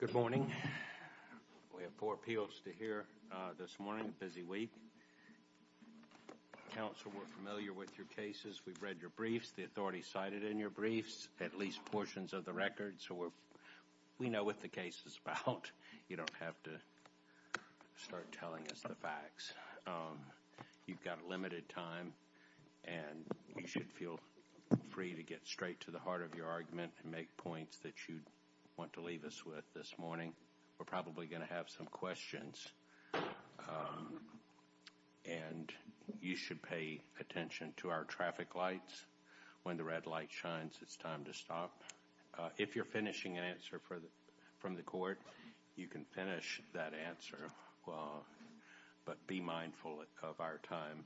Good morning. We have four appeals to hear this morning, a busy week. Counsel, we're familiar with your cases. We've read your briefs. The authorities cited in your briefs at least portions of the record, so we know what the case is about. You don't have to tell us the facts. You've got limited time, and you should feel free to get straight to the heart of your argument and make points that you want to leave us with this morning. We're probably going to have some questions, and you should pay attention to our traffic lights. When the red light shines, it's time to stop. If you're finishing an answer from the court, you can finish that answer, but be mindful of our time.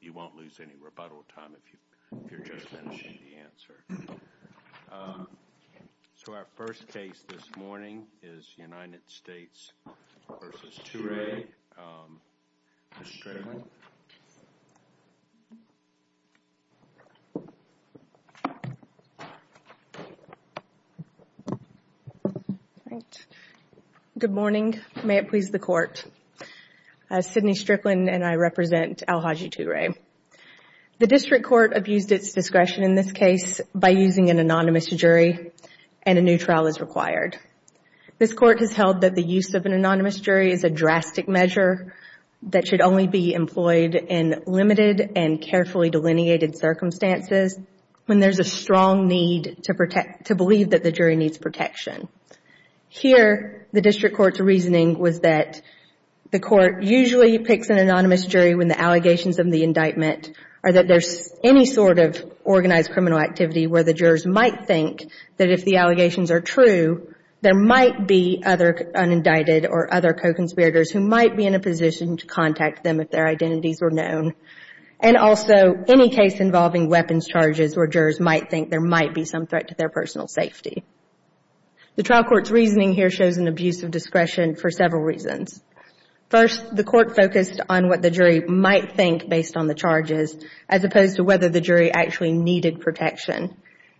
You won't lose any rebuttal time if you're just finishing the answer. So our first case this morning is the United States v. Touray. Ms. Strickland? Good morning. May it please the court. Sidney Strickland, and I represent Alhaji Touray. The district court abused its discretion in this case by using an anonymous jury, and a new trial is required. This court has held that the use of an anonymous jury is a drastic measure that should only be employed in limited and carefully delineated circumstances when there's a strong need to believe that the jury needs protection. Here, the district court's reasoning was that the court usually picks an anonymous jury when the allegations of the indictment or that there's any sort of organized criminal activity where the jurors might think that if the allegations are true, there might be other unindicted or other co-conspirators who might be in a position to contact them if their identities were known, and also any case involving weapons charges where jurors might think there might be some threat to their personal safety. The trial court's reasoning here shows an abuse of discretion for several reasons. First, the court focused on what the jury might think based on the charges, as opposed to whether the jury actually needed protection.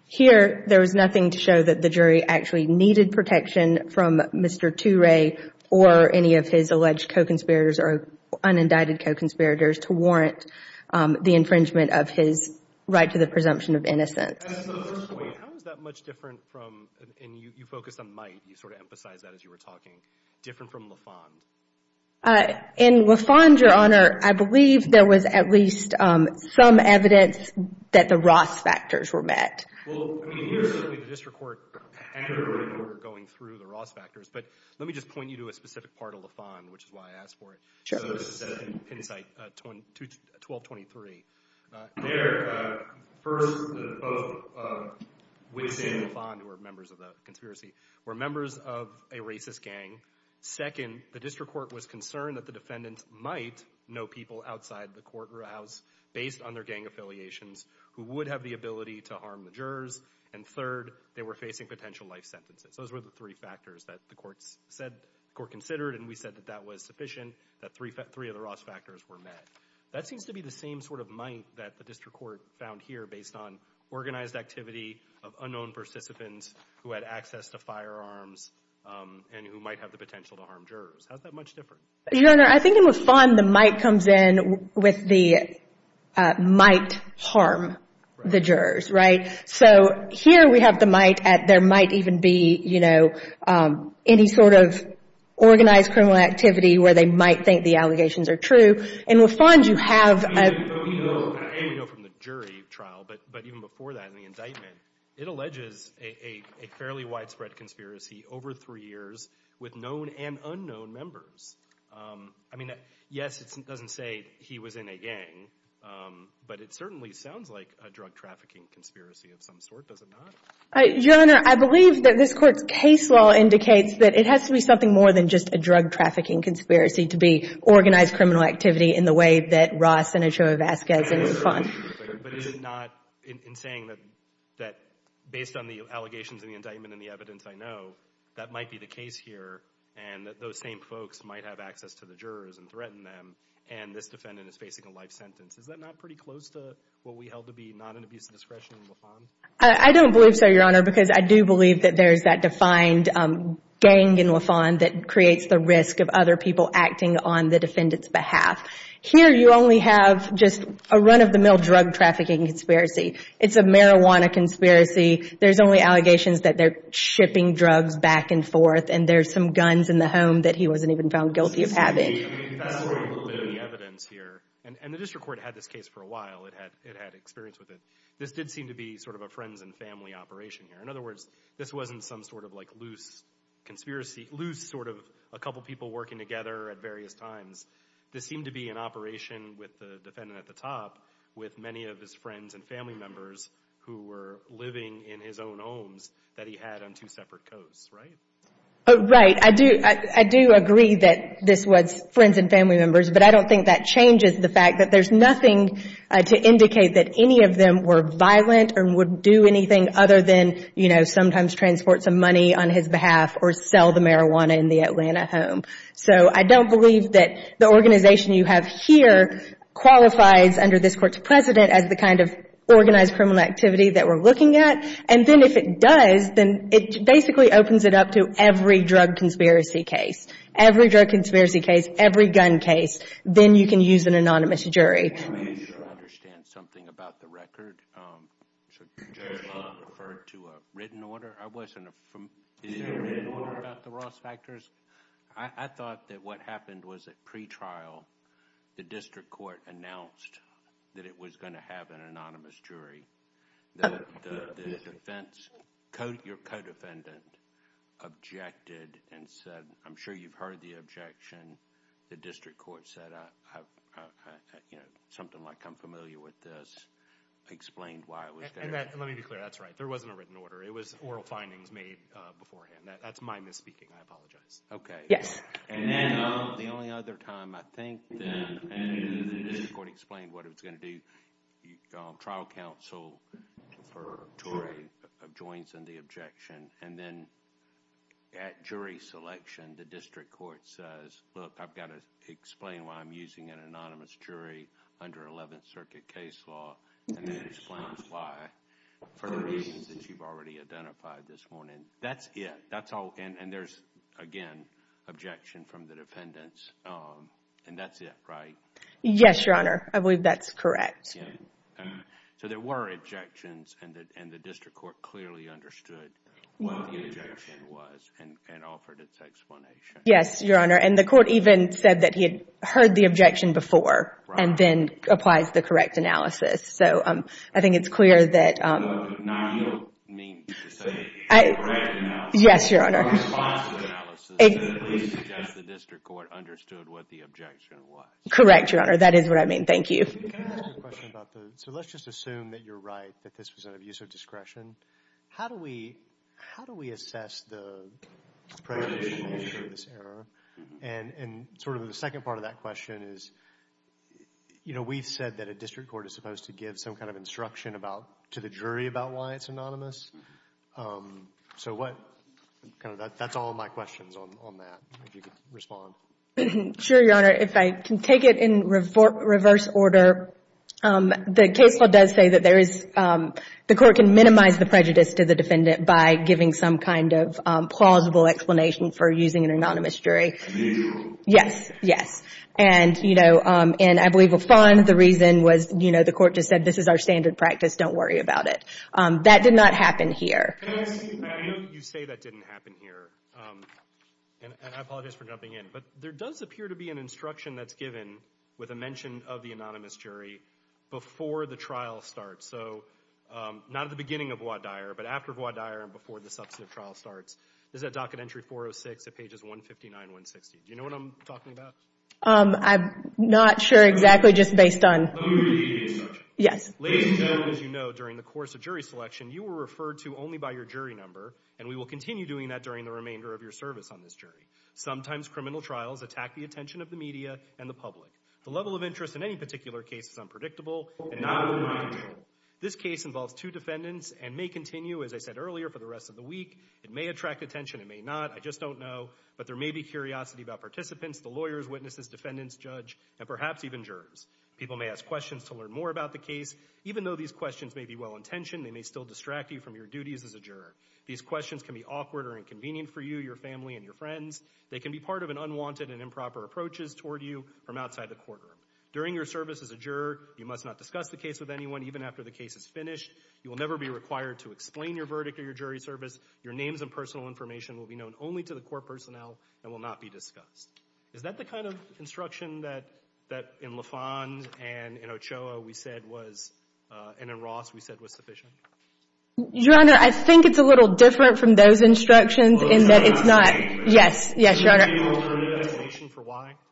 Here, there was nothing to show that the jury actually needed protection from Mr. Touray or any of his alleged co-conspirators or unindicted co-conspirators to warrant the infringement of his right to the presumption of innocence. How is that much different from, and you focused on might, you sort of emphasized that as you were talking, different from LaFond? In LaFond, Your Honor, I believe there was at least some evidence that the Ross factors were met. Well, I mean, here, certainly, the district court and the jury were going through the Ross factors, but let me just point you to a specific part of LaFond, which is why I asked for it. So this is in Penn site 1223. There, first, both Witt and LaFond, who were members of the conspiracy, were members of a racist gang. Second, the district court was concerned that the defendant might know people outside the court or a house based on their gang affiliations who would have the ability to harm the jurors. And third, they were facing potential life sentences. Those were the three factors that the court considered, and we said that that was sufficient, that three of the Ross factors were met. That seems to be the same sort of might that the district court found here based on organized activity of unknown participants who had access to firearms and who might have the potential to harm jurors. How is that much different? Your Honor, I think in LaFond, the might comes in with the might harm the jurors, right? So here we have the might at there might even be, you know, any sort of organized criminal activity where they might think the allegations are true. In LaFond, you have a And we know from the jury trial, but even before that in the indictment, it alleges a fairly widespread conspiracy over three years with known and unknown members. I mean, yes, it doesn't say he was in a gang, but it certainly sounds like a drug trafficking conspiracy of some sort, does it not? Your Honor, I believe that this court's case law indicates that it has to be something more than just a drug trafficking conspiracy to be organized criminal activity in the way that Ross and Ochoa Vasquez did in LaFond. But is it not in saying that based on the allegations in the indictment and the evidence I know, that might be the case here and that those same folks might have access to the jurors and threaten them and this defendant is facing a life sentence. Is that not pretty close to what we held to be not an abuse of discretion in LaFond? I don't believe so, Your Honor, because I do believe that there's that defined gang in LaFond that creates the risk of other people acting on the defendant's behalf. Here you only have just a run-of-the-mill drug trafficking conspiracy. It's a marijuana conspiracy. There's only allegations that they're shipping drugs back and forth and there's some guns in the home that he wasn't even found guilty of having. Excuse me. I mean, if you fast forward a little bit in the evidence here, and the district court had this case for a while, it had experience with it, this did seem to be sort of a friends and family operation here. In other words, this wasn't some sort of like loose conspiracy, loose sort of a couple people working together at various times. This seemed to be an operation with the defendant at the top with many of his friends and family members who were living in his own homes that he had on two separate coasts, right? Right. I do agree that this was friends and family members, but I don't think that changes the fact that there's nothing to indicate that any of them were violent or would do anything other than, you know, sometimes transport some money on his behalf or sell the marijuana in the Atlanta home. So I don't believe that the organization you have here qualifies, under this Court's precedent, as the kind of organized criminal activity that we're looking at. And then if it does, then it basically opens it up to every drug conspiracy case, every drug conspiracy case, every gun case, then you can use an anonymous jury. I need you to understand something about the record. So, Judge Long referred to a written order. I wasn't from, is there a written order about the Ross Factors? I thought that what happened was at pretrial, the district court announced that it was going to have an anonymous jury. The defense, your co-defendant, objected and said, I'm sure you've heard the objection and the district court said, you know, something like, I'm familiar with this, explained why it was there. And let me be clear, that's right. There wasn't a written order. It was oral findings made beforehand. That's my misspeaking. I apologize. Okay. And then the only other time, I think, the district court explained what it was going to do, trial counsel for Torrey joins in the objection and then at jury selection, the district court says, look, I've got to explain why I'm using an anonymous jury under 11th Circuit case law and then explains why for the reasons that you've already identified this morning. That's it. That's all. And there's, again, objection from the defendants. And that's it, right? Yes, Your Honor. I believe that's correct. So, there were objections and the district court clearly understood what the objection was and offered its explanation. Yes, Your Honor. And the court even said that he had heard the objection before and then applies the correct analysis. So, I think it's clear that... No, you mean to say the correct analysis. Yes, Your Honor. The responsible analysis that at least the district court understood what the objection was. Correct, Your Honor. That is what I mean. Thank you. Can I ask you a question about the... So, let's just assume that you're right, that this was an abuse of discretion. How do we assess the... And sort of the second part of that question is, you know, we've said that a district court is supposed to give some kind of instruction to the jury about why it's anonymous. So, what... That's all my questions on that, if you could respond. Sure, Your Honor. If I can take it in reverse order, the case law does say that there is... The court can minimize the prejudice to the defendant by giving some kind of plausible explanation for using an anonymous jury. Yes, yes. And, you know, and I believe LaFawn, the reason was, you know, the court just said, this is our standard practice, don't worry about it. That did not happen here. I know you say that didn't happen here, and I apologize for jumping in, but there does appear to be an instruction that's given with a mention of the anonymous jury before the trial starts. So, not at the beginning of voir dire, but after voir dire and before the substantive trial starts. This is at Docket Entry 406 at pages 159, 160. Do you know what I'm talking about? I'm not sure exactly, just based on... Yes. Ladies and gentlemen, as you know, during the course of jury selection, you were referred to only by your jury number, and we will continue doing that during the remainder of your service on this jury. Sometimes criminal trials attack the attention of the media and the public. The level of interest in any particular case is unpredictable and not within my control. This case involves two defendants and may continue, as I said earlier, for the rest of the week. It may attract attention, it may not, I just don't know, but there may be curiosity about participants, the lawyers, witnesses, defendants, judge, and perhaps even jurors. People may ask questions to learn more about the case. Even though these questions may be well-intentioned, they may still distract you from your duties as a juror. These questions can be awkward or inconvenient for you, your family, and your friends. They can be part of an unwanted and improper approaches toward you from outside the courtroom. During your service as a juror, you must not discuss the case with anyone, even after the case is finished. You will never be required to explain your verdict or your jury service. Your names and personal information will be known only to the court personnel and will not be discussed. Is that the kind of instruction that in Lafon and in Ochoa we said was and in Ross we said was sufficient? Your Honor, I think it's a little different from those instructions in that it's not Yes. Yes, Your Honor.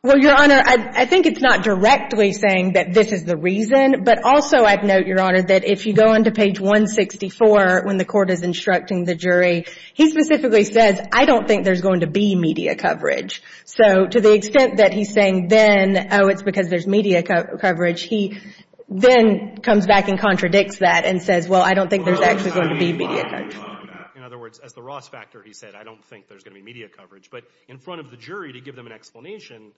Well, Your Honor, I think it's not directly saying that this is the reason, but also I'd note, Your Honor, that if you go into page 164 when the court is instructing the jury, he specifically says, I don't think there's going to be media coverage. So to the extent that he's saying, then, oh, it's because there's media coverage, he then comes back and contradicts that and says, well, I don't think there's actually going to be media coverage. In other words, as the Ross factor, he said, I don't think there's going to be media coverage. But in front of the jury, to give them an explanation,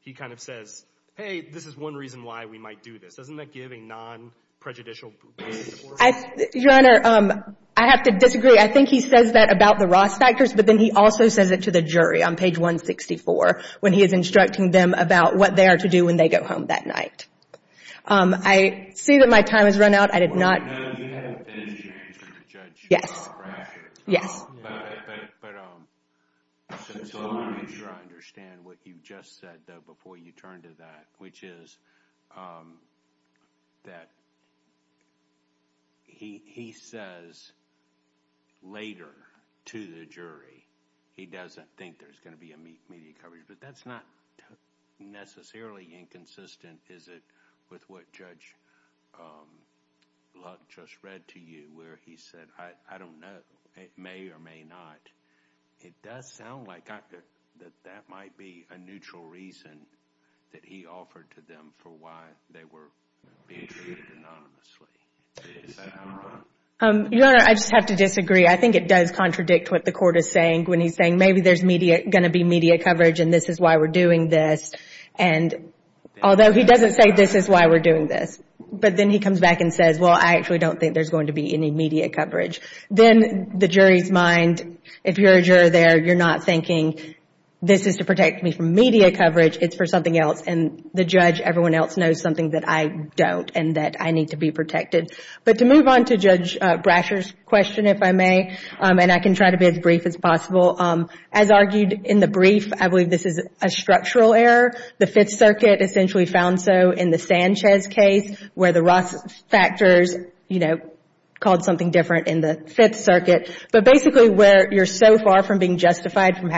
he kind of says, hey, this is one reason why we might do this. Doesn't that give a non-prejudicial way of divorce? Your Honor, I have to disagree. I think he says that about the Ross factors. But then he also says it to the jury on page 164 when he is instructing them about what they are to do when they go home that night. I see that my time has run out. I did not Well, no, you haven't finished your answer to Judge Brasher. Yes. But I want to make sure I understand what you just said, though, before you turn to that, which is that he says later to the jury he doesn't think there's going to be media coverage. But that's not necessarily inconsistent, is it, with what Judge Luck just read to you where he said, I don't know, it may or may not. It does sound like that might be a neutral reason that he offered to them for why they were being treated anonymously. Your Honor, I just have to disagree. I think it does contradict what the court is saying when he's saying maybe there's going to be media coverage and this is why we're doing this. And although he doesn't say this is why we're doing this, but then he comes back and says, well, I actually don't think there's going to be any media coverage. Then the jury's mind, if you're a juror there, you're not thinking this is to protect me from media coverage. It's for something else. And the judge, everyone else knows something that I don't and that I need to be protected. But to move on to Judge Brasher's question, if I may, and I can try to be as brief as possible, as argued in the brief, I believe this is a structural error. The Fifth Circuit essentially found so in the Sanchez case where the Ross factors called something different in the Fifth Circuit, but basically where you're so far from being justified for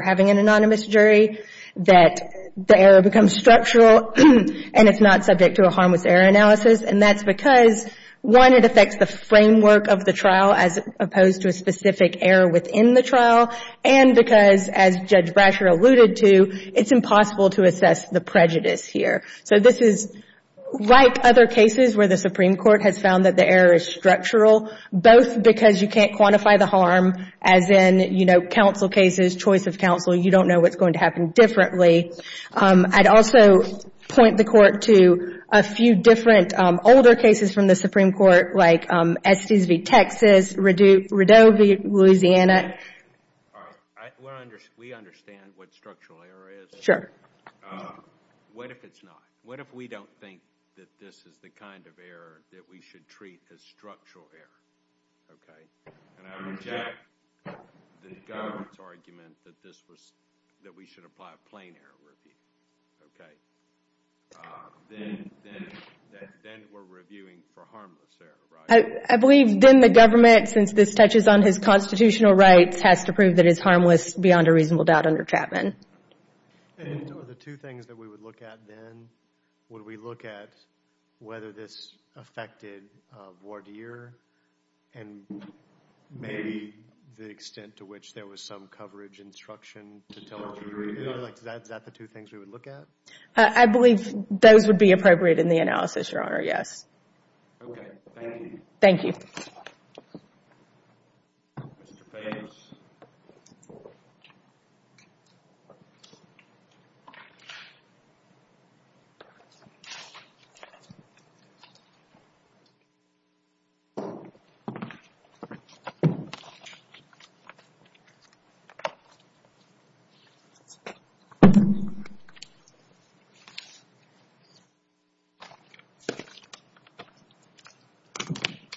having an anonymous jury that the error becomes structural and it's not subject to a harmless error analysis. And that's because, one, it affects the framework of the trial as opposed to a specific error within the trial. And because, as Judge Brasher alluded to, it's impossible to assess the prejudice here. So this is like other cases where the Supreme Court has found that the error is structural, both because you can't quantify the harm, as in counsel cases, choice of counsel, you don't know what's going to happen differently. I'd also point the Court to a few different older cases from the Supreme Court, like Estes v. Texas, Radovi, Louisiana. We understand what structural error is. What if it's not? What if we don't think that this is the kind of error that we should treat as structural error? And I reject the government's argument that we should apply a plain error review. Then we're reviewing for harmless error, right? I believe then the government, since this touches on his constitutional rights, has to prove that it's harmless beyond a reasonable doubt under Chapman. And are the two things that we would look at then, would we look at whether this affected voir dire and maybe the extent to which there was some coverage instruction to tell us we were doing it? Is that the two things we would look at? I believe those would be appropriate in the analysis, Your Honor, yes. Okay, thank you. Thank you.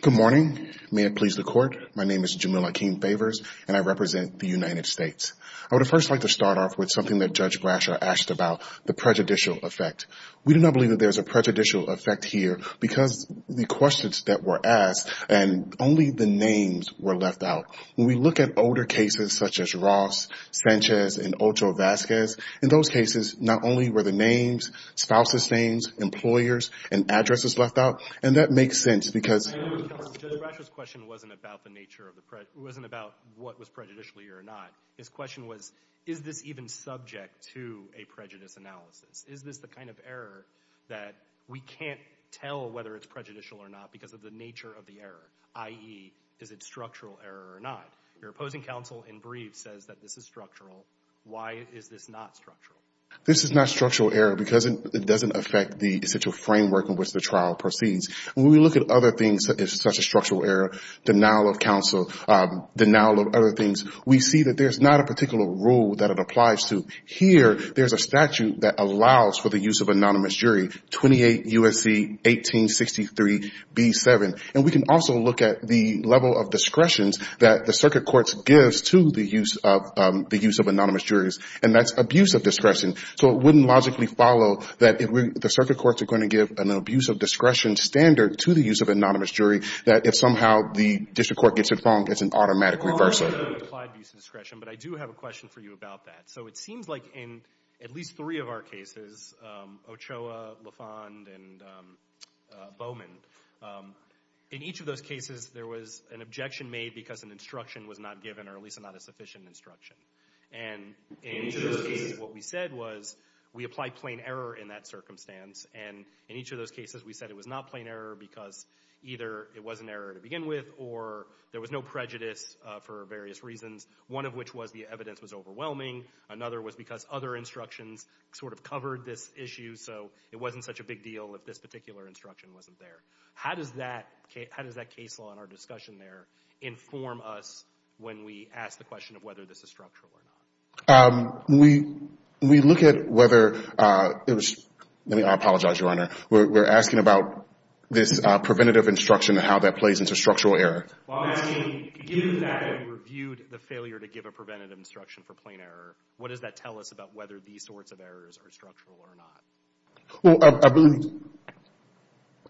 Good morning. May it please the Court. My name is Jamil Akeem Favors, and I represent the United States. I would first like to start off with something that Judge Brasher asked about, the prejudicial effect. We do not believe that there is a prejudicial effect here because the questions that were asked and only the names were left out. When we look at older cases such as Ross, Sanchez, and Ochoa Vasquez, in those cases, not only were the names, spouse's names, employers, and addresses left out, and that makes sense because… Judge Brasher's question wasn't about what was prejudicial here or not. His question was, is this even subject to a prejudice analysis? Is this the kind of error that we can't tell whether it's prejudicial or not because of the nature of the error, i.e., is it structural error or not? Your opposing counsel in brief says that this is structural. Why is this not structural? This is not structural error because it doesn't affect the essential framework in which the trial proceeds. When we look at other things such as structural error, denial of counsel, denial of other things, we see that there's not a particular rule that it applies to. Here, there's a statute that allows for the use of anonymous jury, 28 U.S.C. 1863b7, and we can also look at the level of discretions that the circuit court gives to the use of anonymous juries, and that's abuse of discretion. So it wouldn't logically follow that the circuit courts are going to give an abuse of discretion standard to the use of anonymous jury that if somehow the district court gets it wrong, it's an automatic reversal. Well, I don't know if it applied abuse of discretion, but I do have a question for you about that. It seems like in at least three of our cases, Ochoa, LaFond, and Bowman, in each of those cases there was an objection made because an instruction was not given or at least not a sufficient instruction. And in each of those cases what we said was we applied plain error in that circumstance, and in each of those cases we said it was not plain error because either it was an error to begin with or there was no prejudice for various reasons, one of which was the evidence was overwhelming. Another was because other instructions sort of covered this issue, so it wasn't such a big deal if this particular instruction wasn't there. How does that case law in our discussion there inform us when we ask the question of whether this is structural or not? When we look at whether it was – let me apologize, Your Honor. We're asking about this preventative instruction and how that plays into structural error. Well, I mean, given that we reviewed the failure to give a preventative instruction for plain error, what does that tell us about whether these sorts of errors are structural or not? Well,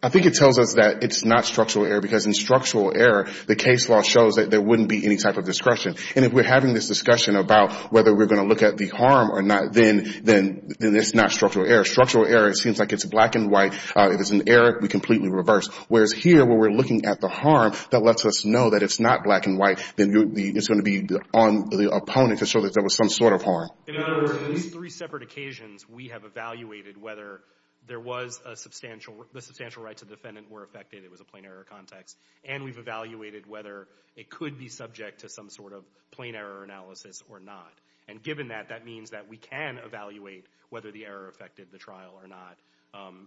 I think it tells us that it's not structural error because in structural error the case law shows that there wouldn't be any type of discretion. And if we're having this discussion about whether we're going to look at the harm or not, then it's not structural error. Structural error seems like it's black and white. If it's an error, we completely reverse, whereas here where we're looking at the harm that lets us know that it's not black and white, then it's going to be on the opponent to show that there was some sort of harm. In other words, in these three separate occasions, we have evaluated whether there was a substantial – the substantial rights of the defendant were affected, it was a plain error context, and we've evaluated whether it could be subject to some sort of plain error analysis or not. And given that, that means that we can evaluate whether the error affected the trial or not,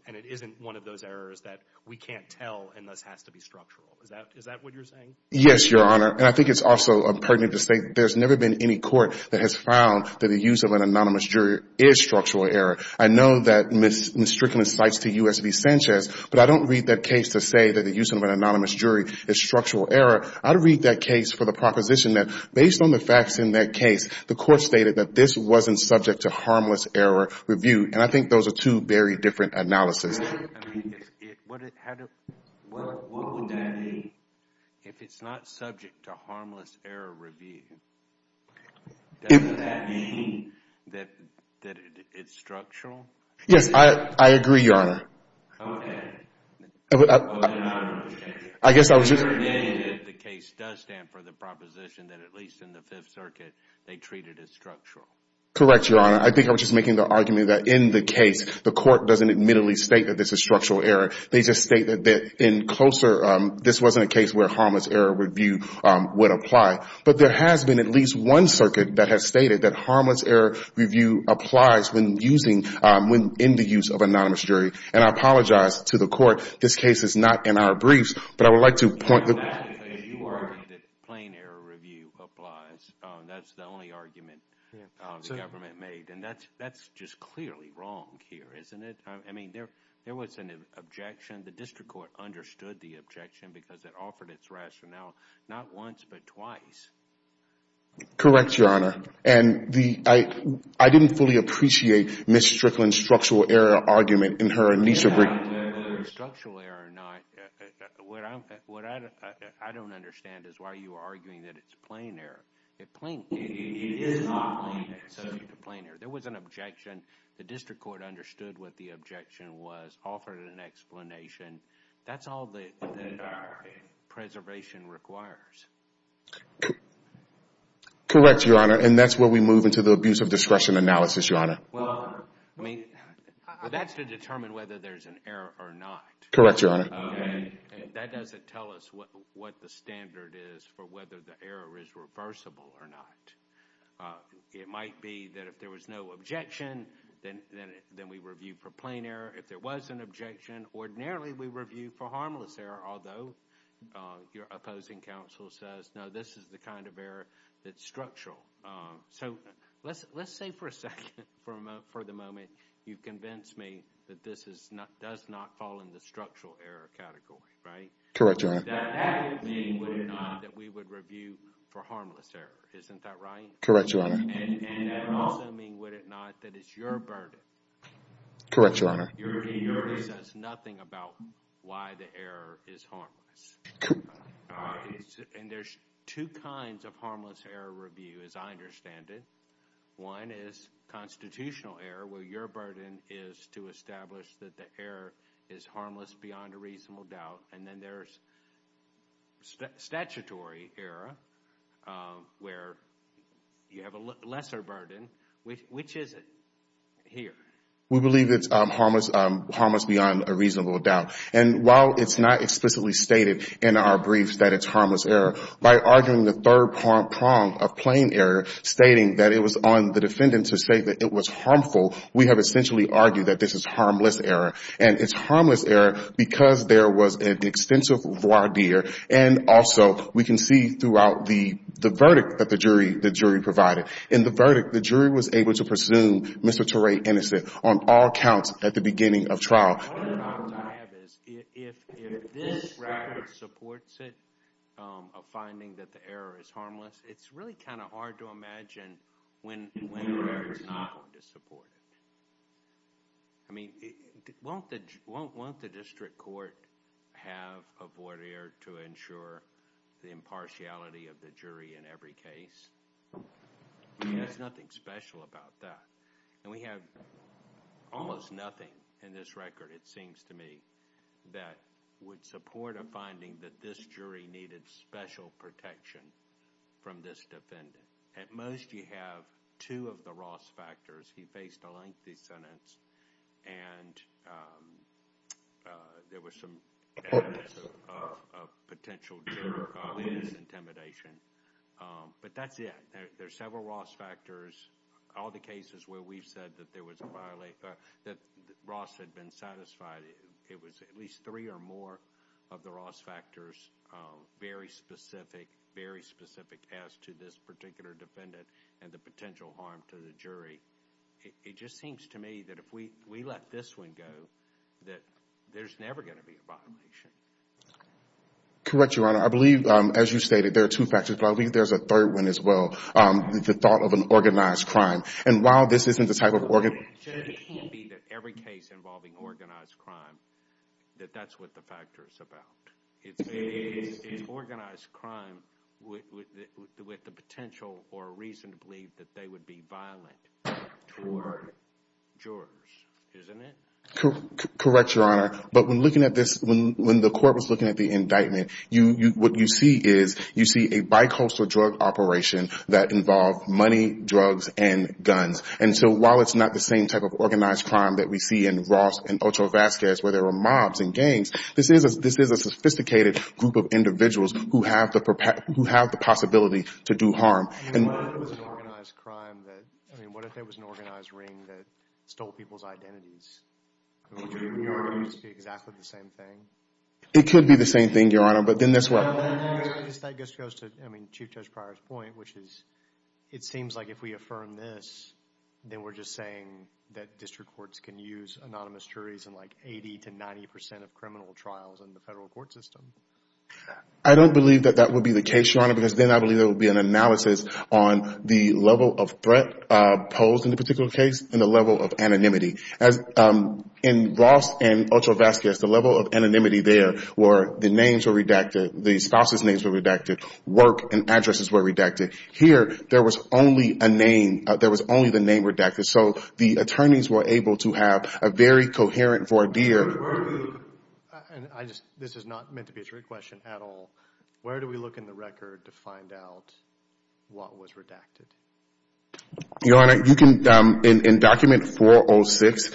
and it isn't one of those errors that we can't tell and thus has to be structural. Is that what you're saying? Yes, Your Honor, and I think it's also pertinent to say that there's never been any court that has found that the use of an anonymous jury is structural error. I know that Ms. Strickland cites the U.S. v. Sanchez, but I don't read that case to say that the use of an anonymous jury is structural error. I'd read that case for the proposition that based on the facts in that case, the court stated that this wasn't subject to harmless error review, and I think those are two very different analyses. What would that mean? If it's not subject to harmless error review, does that mean that it's structural? Yes, I agree, Your Honor. Okay. Well, then I don't understand you. I guess I was just— You're admitting that the case does stand for the proposition that, at least in the Fifth Circuit, they treat it as structural. Correct, Your Honor. I think I was just making the argument that in the case, the court doesn't admittedly state that this is structural error. They just state that in closer—this wasn't a case where harmless error review would apply. But there has been at least one circuit that has stated that harmless error review applies when using— when in the use of anonymous jury, and I apologize to the court. This case is not in our briefs, but I would like to point— You argued that plain error review applies. That's the only argument the government made, and that's just clearly wrong here, isn't it? I mean, there was an objection. The district court understood the objection because it offered its rationale not once but twice. Correct, Your Honor. And I didn't fully appreciate Ms. Strickland's structural error argument in her— Whether it's structural error or not, what I don't understand is why you are arguing that it's plain error. It is not plain error. There was an objection. The district court understood what the objection was, offered an explanation. That's all that preservation requires. Correct, Your Honor, and that's where we move into the abuse of discretion analysis, Your Honor. Well, I mean, that's to determine whether there's an error or not. Correct, Your Honor. And that doesn't tell us what the standard is for whether the error is reversible or not. It might be that if there was no objection, then we review for plain error. If there was an objection, ordinarily we review for harmless error, although your opposing counsel says, no, this is the kind of error that's structural. So let's say for a second, for the moment, you've convinced me that this does not fall in the structural error category, right? Correct, Your Honor. That would mean, would it not, that we would review for harmless error, isn't that right? Correct, Your Honor. And that would also mean, would it not, that it's your burden. Correct, Your Honor. Your burden says nothing about why the error is harmless. And there's two kinds of harmless error review, as I understand it. One is constitutional error, where your burden is to establish that the error is harmless beyond a reasonable doubt. And then there's statutory error, where you have a lesser burden. Which is it here? We believe it's harmless beyond a reasonable doubt. And while it's not explicitly stated in our briefs that it's harmless error, by arguing the third prong of plain error, stating that it was on the defendant to say that it was harmful, we have essentially argued that this is harmless error. And it's harmless error because there was an extensive voir dire. And also, we can see throughout the verdict that the jury provided. In the verdict, the jury was able to presume Mr. Turay innocent on all counts at the beginning of trial. All that I have is if this record supports it, a finding that the error is harmless, it's really kind of hard to imagine when the error is not going to support it. I mean, won't the district court have a voir dire to ensure the impartiality of the jury in every case? There's nothing special about that. And we have almost nothing in this record, it seems to me, that would support a finding that this jury needed special protection from this defendant. At most, you have two of the Ross factors. He faced a lengthy sentence, and there was some evidence of potential intimidation. But that's it. There's several Ross factors. All the cases where we've said that Ross had been satisfied, it was at least three or more of the Ross factors very specific, very specific as to this particular defendant and the potential harm to the jury. It just seems to me that if we let this one go, that there's never going to be a violation. Correct, Your Honor. I believe, as you stated, there are two factors. But I believe there's a third one as well, the thought of an organized crime. And while this isn't the type of organized crime. It can't be that every case involving organized crime, that that's what the factor is about. It's organized crime with the potential or reason to believe that they would be violent toward jurors, isn't it? Correct, Your Honor. But when looking at this, when the court was looking at the indictment, what you see is you see a bicoastal drug operation that involved money, drugs, and guns. And so while it's not the same type of organized crime that we see in Ross and Ocho Vazquez, where there were mobs and gangs, this is a sophisticated group of individuals who have the possibility to do harm. And what if it was an organized crime? I mean, what if it was an organized ring that stole people's identities? Could it be exactly the same thing? It could be the same thing, Your Honor. But then that's what... I guess that goes to, I mean, Chief Judge Pryor's point, which is it seems like if we affirm this, then we're just saying that district courts can use anonymous juries in like 80 to 90 percent of criminal trials in the federal court system. I don't believe that that would be the case, Your Honor, because then I believe there would be an analysis on the level of threat posed in the particular case and the level of anonymity. In Ross and Ocho Vazquez, the level of anonymity there were the names were redacted, the spouses' names were redacted, work and addresses were redacted. Here, there was only a name. There was only the name redacted. So the attorneys were able to have a very coherent voir dire. This is not meant to be a trick question at all. Where do we look in the record to find out what was redacted? Your Honor, in Document 406,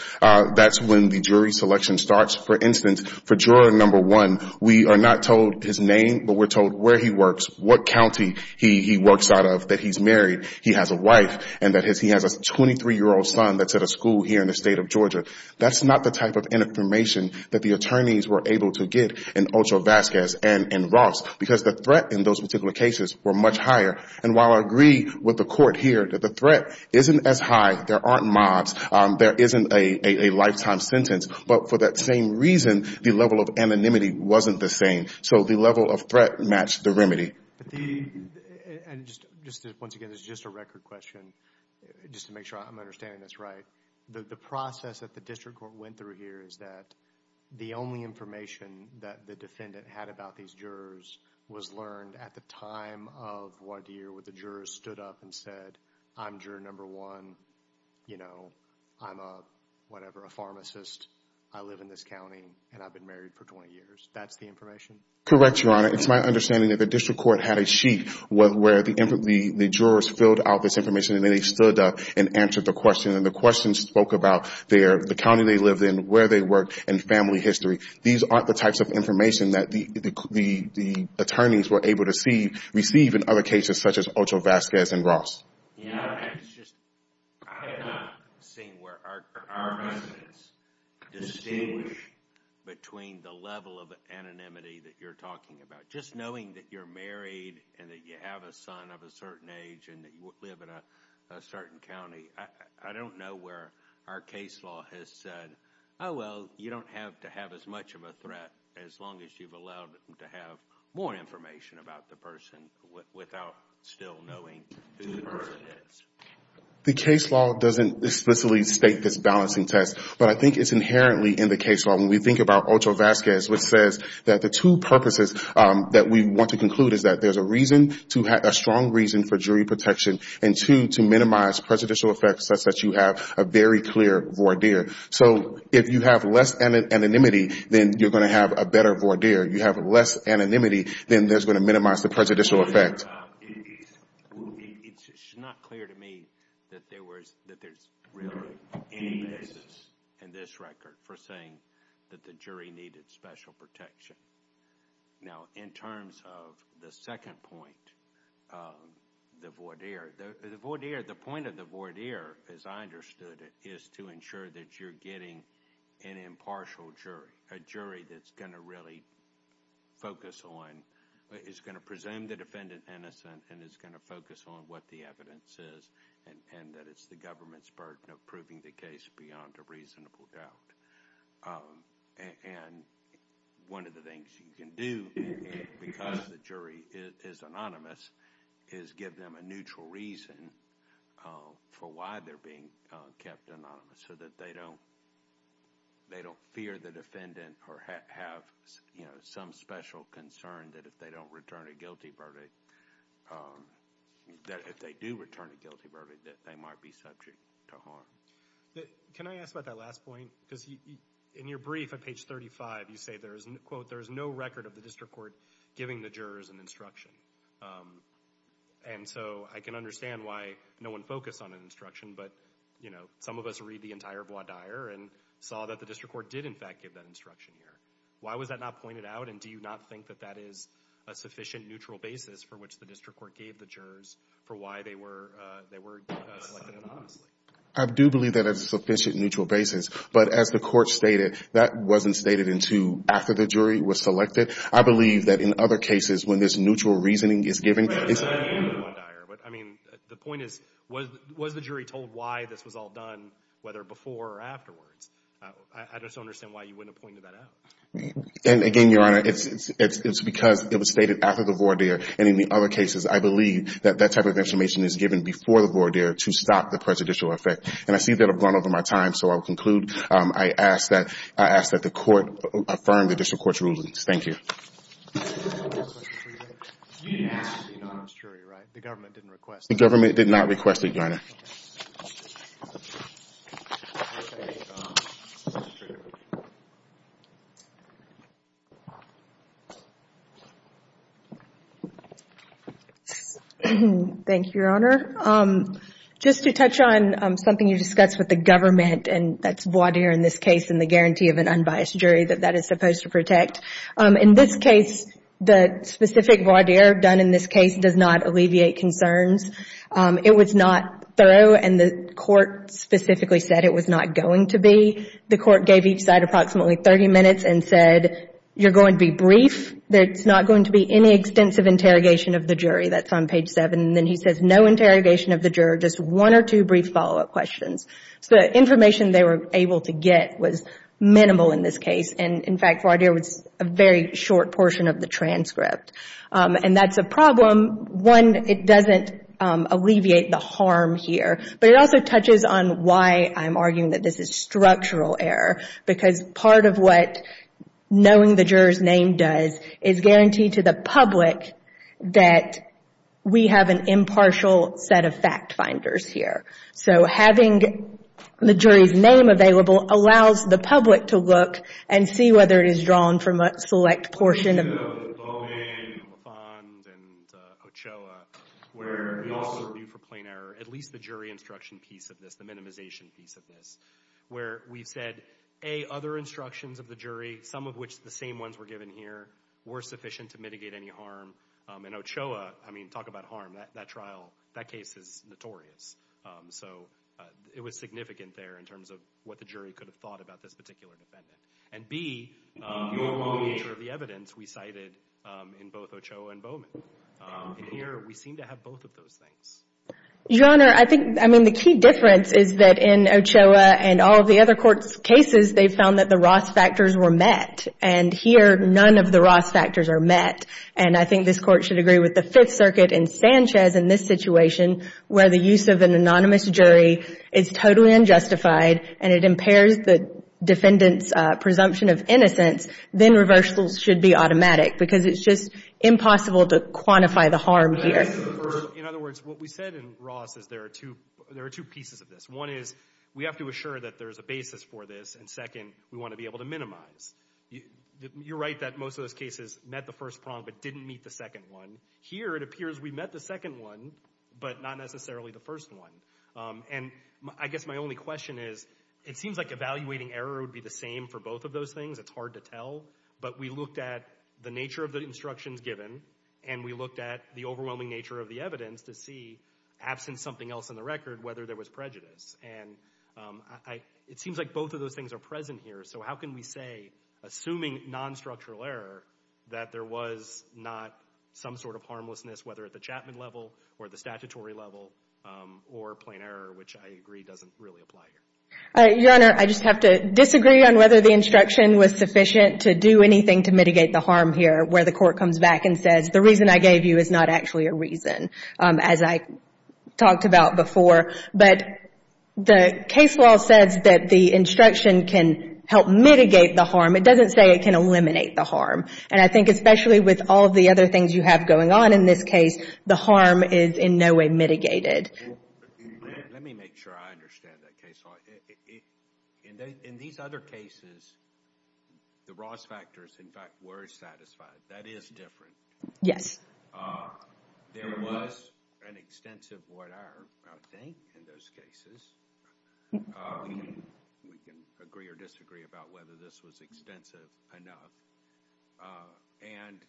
that's when the jury selection starts. For instance, for juror number one, we are not told his name, but we're told where he works, what county he works out of, that he's married, he has a wife, and that he has a 23-year-old son that's at a school here in the state of Georgia. That's not the type of information that the attorneys were able to get in Ocho Vazquez and in Ross because the threat in those particular cases were much higher. And while I agree with the Court here that the threat isn't as high, there aren't mobs, there isn't a lifetime sentence, but for that same reason, the level of anonymity wasn't the same. So the level of threat matched the remedy. Once again, this is just a record question just to make sure I'm understanding this right. The process that the District Court went through here is that the only information that the defendant had about these jurors was learned at the time of Wadeer where the jurors stood up and said, I'm juror number one, you know, I'm a whatever, a pharmacist, I live in this county, and I've been married for 20 years. That's the information? Correct, Your Honor. It's my understanding that the District Court had a sheet where the jurors filled out this information and then they stood up and answered the question. And the question spoke about the county they lived in, where they worked, and family history. These aren't the types of information that the attorneys were able to receive in other cases such as Ocho Vazquez and Ross. Your Honor, I have not seen where our residents distinguish between the level of anonymity that you're talking about. Just knowing that you're married and that you have a son of a certain age and that you live in a certain county, I don't know where our case law has said, oh, well, you don't have to have as much of a threat as long as you've allowed them to have more information about the person without still knowing who the person is. The case law doesn't explicitly state this balancing test, but I think it's inherently in the case law. When we think about Ocho Vazquez, it says that the two purposes that we want to conclude is that there's a strong reason for jury protection and two, to minimize prejudicial effects such that you have a very clear voir dire. So if you have less anonymity, then you're going to have a better voir dire. If you have less anonymity, then that's going to minimize the prejudicial effect. It's just not clear to me that there's really any basis in this record for saying that the jury needed special protection. Now, in terms of the second point, the voir dire, the point of the voir dire, as I understood it, is to ensure that you're getting an impartial jury, a jury that's going to really focus on, is going to presume the defendant innocent and is going to focus on what the evidence is and that it's the government's burden of proving the case beyond a reasonable doubt. And one of the things you can do, because the jury is anonymous, is give them a neutral reason for why they're being kept anonymous so that they don't fear the defendant or have some special concern that if they don't return a guilty verdict, that if they do return a guilty verdict, that they might be subject to harm. Can I ask about that last point? Because in your brief at page 35, you say, quote, there's no record of the district court giving the jurors an instruction. And so I can understand why no one focused on an instruction, but, you know, some of us read the entire voir dire and saw that the district court did, in fact, give that instruction here. Why was that not pointed out, and do you not think that that is a sufficient neutral basis for which the district court gave the jurors for why they were selected anonymously? I do believe that it's a sufficient neutral basis, but as the court stated, that wasn't stated until after the jury was selected. I believe that in other cases, when this neutral reasoning is given, it's— But, I mean, the point is, was the jury told why this was all done, whether before or afterwards? I just don't understand why you wouldn't have pointed that out. And, again, Your Honor, it's because it was stated after the voir dire, and in the other cases, I believe that that type of information is given before the voir dire to stop the prejudicial effect. And I see that I've gone over my time, so I will conclude. I ask that the court affirm the district court's rulings. Thank you. Last question for you, Rick. Yes. The anonymous jury, right? The government didn't request it. The government did not request it, Your Honor. Thank you, Your Honor. Just to touch on something you discussed with the government, and that's voir dire in this case, and the guarantee of an unbiased jury that that is supposed to protect. In this case, the specific voir dire done in this case does not alleviate concerns. It was not thorough, and the court specifically said it was not going to be. The court gave each side approximately 30 minutes and said, you're going to be brief, there's not going to be any extensive interrogation of the jury. That's on page 7. And then he says no interrogation of the juror, just one or two brief follow-up questions. So the information they were able to get was minimal in this case. And, in fact, voir dire was a very short portion of the transcript. And that's a problem. One, it doesn't alleviate the harm here. But it also touches on why I'm arguing that this is structural error, because part of what knowing the juror's name does is guarantee to the public that we have an impartial set of fact finders here. So having the jury's name available allows the public to look and see whether it is drawn from a select portion of the domain, and LaFond, and Ochoa, where we also view for plain error at least the jury instruction piece of this, the minimization piece of this, where we've said, A, other instructions of the jury, some of which the same ones were given here, were sufficient to mitigate any harm. So in Ochoa, I mean, talk about harm. That trial, that case is notorious. So it was significant there in terms of what the jury could have thought about this particular defendant. And, B, the nature of the evidence we cited in both Ochoa and Bowman. And here, we seem to have both of those things. Your Honor, I think, I mean, the key difference is that in Ochoa and all of the other court's cases, they found that the Ross factors were met. And here, none of the Ross factors are met. And I think this Court should agree with the Fifth Circuit and Sanchez in this situation where the use of an anonymous jury is totally unjustified and it impairs the defendant's presumption of innocence, then reversals should be automatic. Because it's just impossible to quantify the harm here. In other words, what we said in Ross is there are two pieces of this. One is we have to assure that there is a basis for this. And, second, we want to be able to minimize. You're right that most of those cases met the first prong but didn't meet the second one. Here, it appears we met the second one but not necessarily the first one. And I guess my only question is it seems like evaluating error would be the same for both of those things. It's hard to tell. But we looked at the nature of the instructions given, and we looked at the overwhelming nature of the evidence to see, absent something else in the record, whether there was prejudice. And it seems like both of those things are present here. So how can we say, assuming non-structural error, that there was not some sort of harmlessness, whether at the Chapman level or the statutory level or plain error, which I agree doesn't really apply here. Your Honor, I just have to disagree on whether the instruction was sufficient to do anything to mitigate the harm here where the court comes back and says, the reason I gave you is not actually a reason, as I talked about before. But the case law says that the instruction can help mitigate the harm. It doesn't say it can eliminate the harm. And I think especially with all the other things you have going on in this case, the harm is in no way mitigated. Let me make sure I understand that case law. In these other cases, the Ross factors, in fact, were satisfied. That is different. Yes. There was an extensive void error, I think, in those cases. We can agree or disagree about whether this was extensive enough. And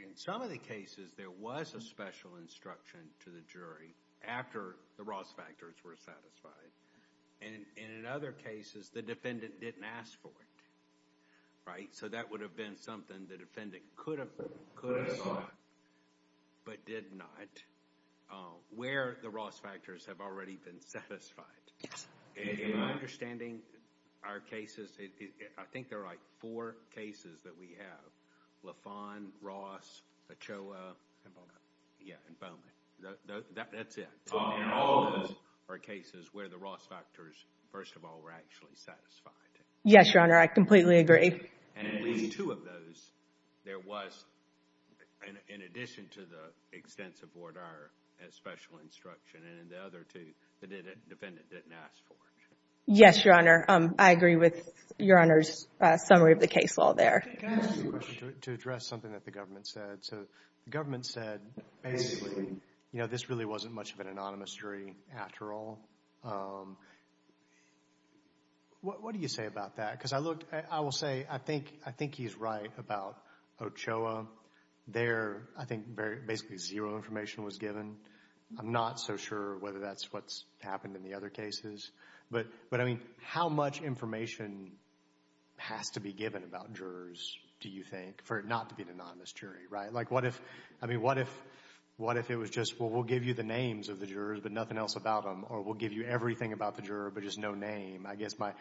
in some of the cases, there was a special instruction to the jury after the Ross factors were satisfied. And in other cases, the defendant didn't ask for it. Right? So that would have been something the defendant could have thought, but did not, where the Ross factors have already been satisfied. Yes. In my understanding, our cases, I think there are four cases that we have, LaFawn, Ross, Ochoa, and Bowman. Yeah, and Bowman. That's it. All of those are cases where the Ross factors, first of all, were actually satisfied. Yes, Your Honor. I completely agree. And at least two of those, there was, in addition to the extensive void error, a special instruction. And in the other two, the defendant didn't ask for it. Yes, Your Honor. I agree with Your Honor's summary of the case law there. Can I ask you a question to address something that the government said? The government said, basically, this really wasn't much of an anonymous jury after all. What do you say about that? Because I looked, I will say, I think he's right about Ochoa. There, I think, basically zero information was given. I'm not so sure whether that's what's happened in the other cases. But, I mean, how much information has to be given about jurors, do you think, for it not to be an anonymous jury, right? Like, what if it was just, well, we'll give you the names of the jurors but nothing else about them, or we'll give you everything about the juror but just no name. I guess my,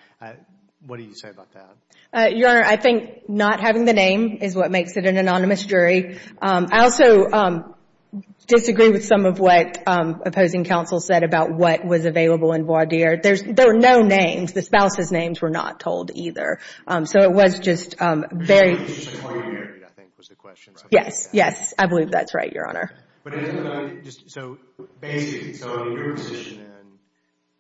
what do you say about that? Your Honor, I think not having the name is what makes it an anonymous jury. I also disagree with some of what opposing counsel said about what was available in voir dire. There were no names. The spouses' names were not told either. So, it was just very. I think it was a question. Yes, yes. I believe that's right, Your Honor. So, basically, so your position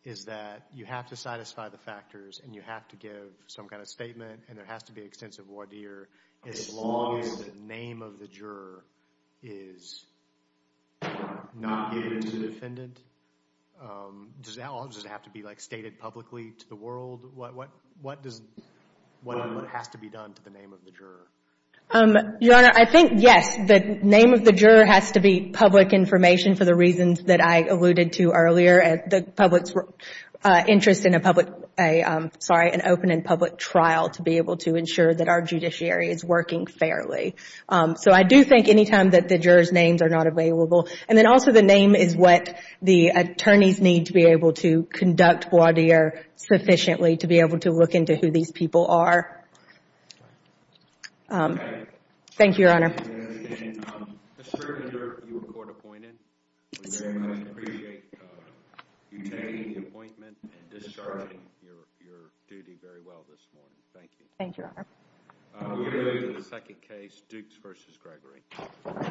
is that you have to satisfy the factors and you have to give some kind of statement, and there has to be extensive voir dire as long as the name of the juror is not given to the defendant? Does it all just have to be, like, stated publicly to the world? What does, what has to be done to the name of the juror? Your Honor, I think, yes, the name of the juror has to be public information for the reasons that I alluded to earlier. The public's interest in a public, sorry, an open and public trial to be able to ensure that our judiciary is working fairly. So, I do think any time that the juror's names are not available, and then also the name is what the attorneys need to be able to conduct voir dire sufficiently to be able to look into who these people are. Thank you, Your Honor. Mr. Render, you were court appointed. We very much appreciate you taking the appointment and discharging your duty very well this morning. Thank you. Thank you, Your Honor. We move to the second case, Dukes v. Gregory.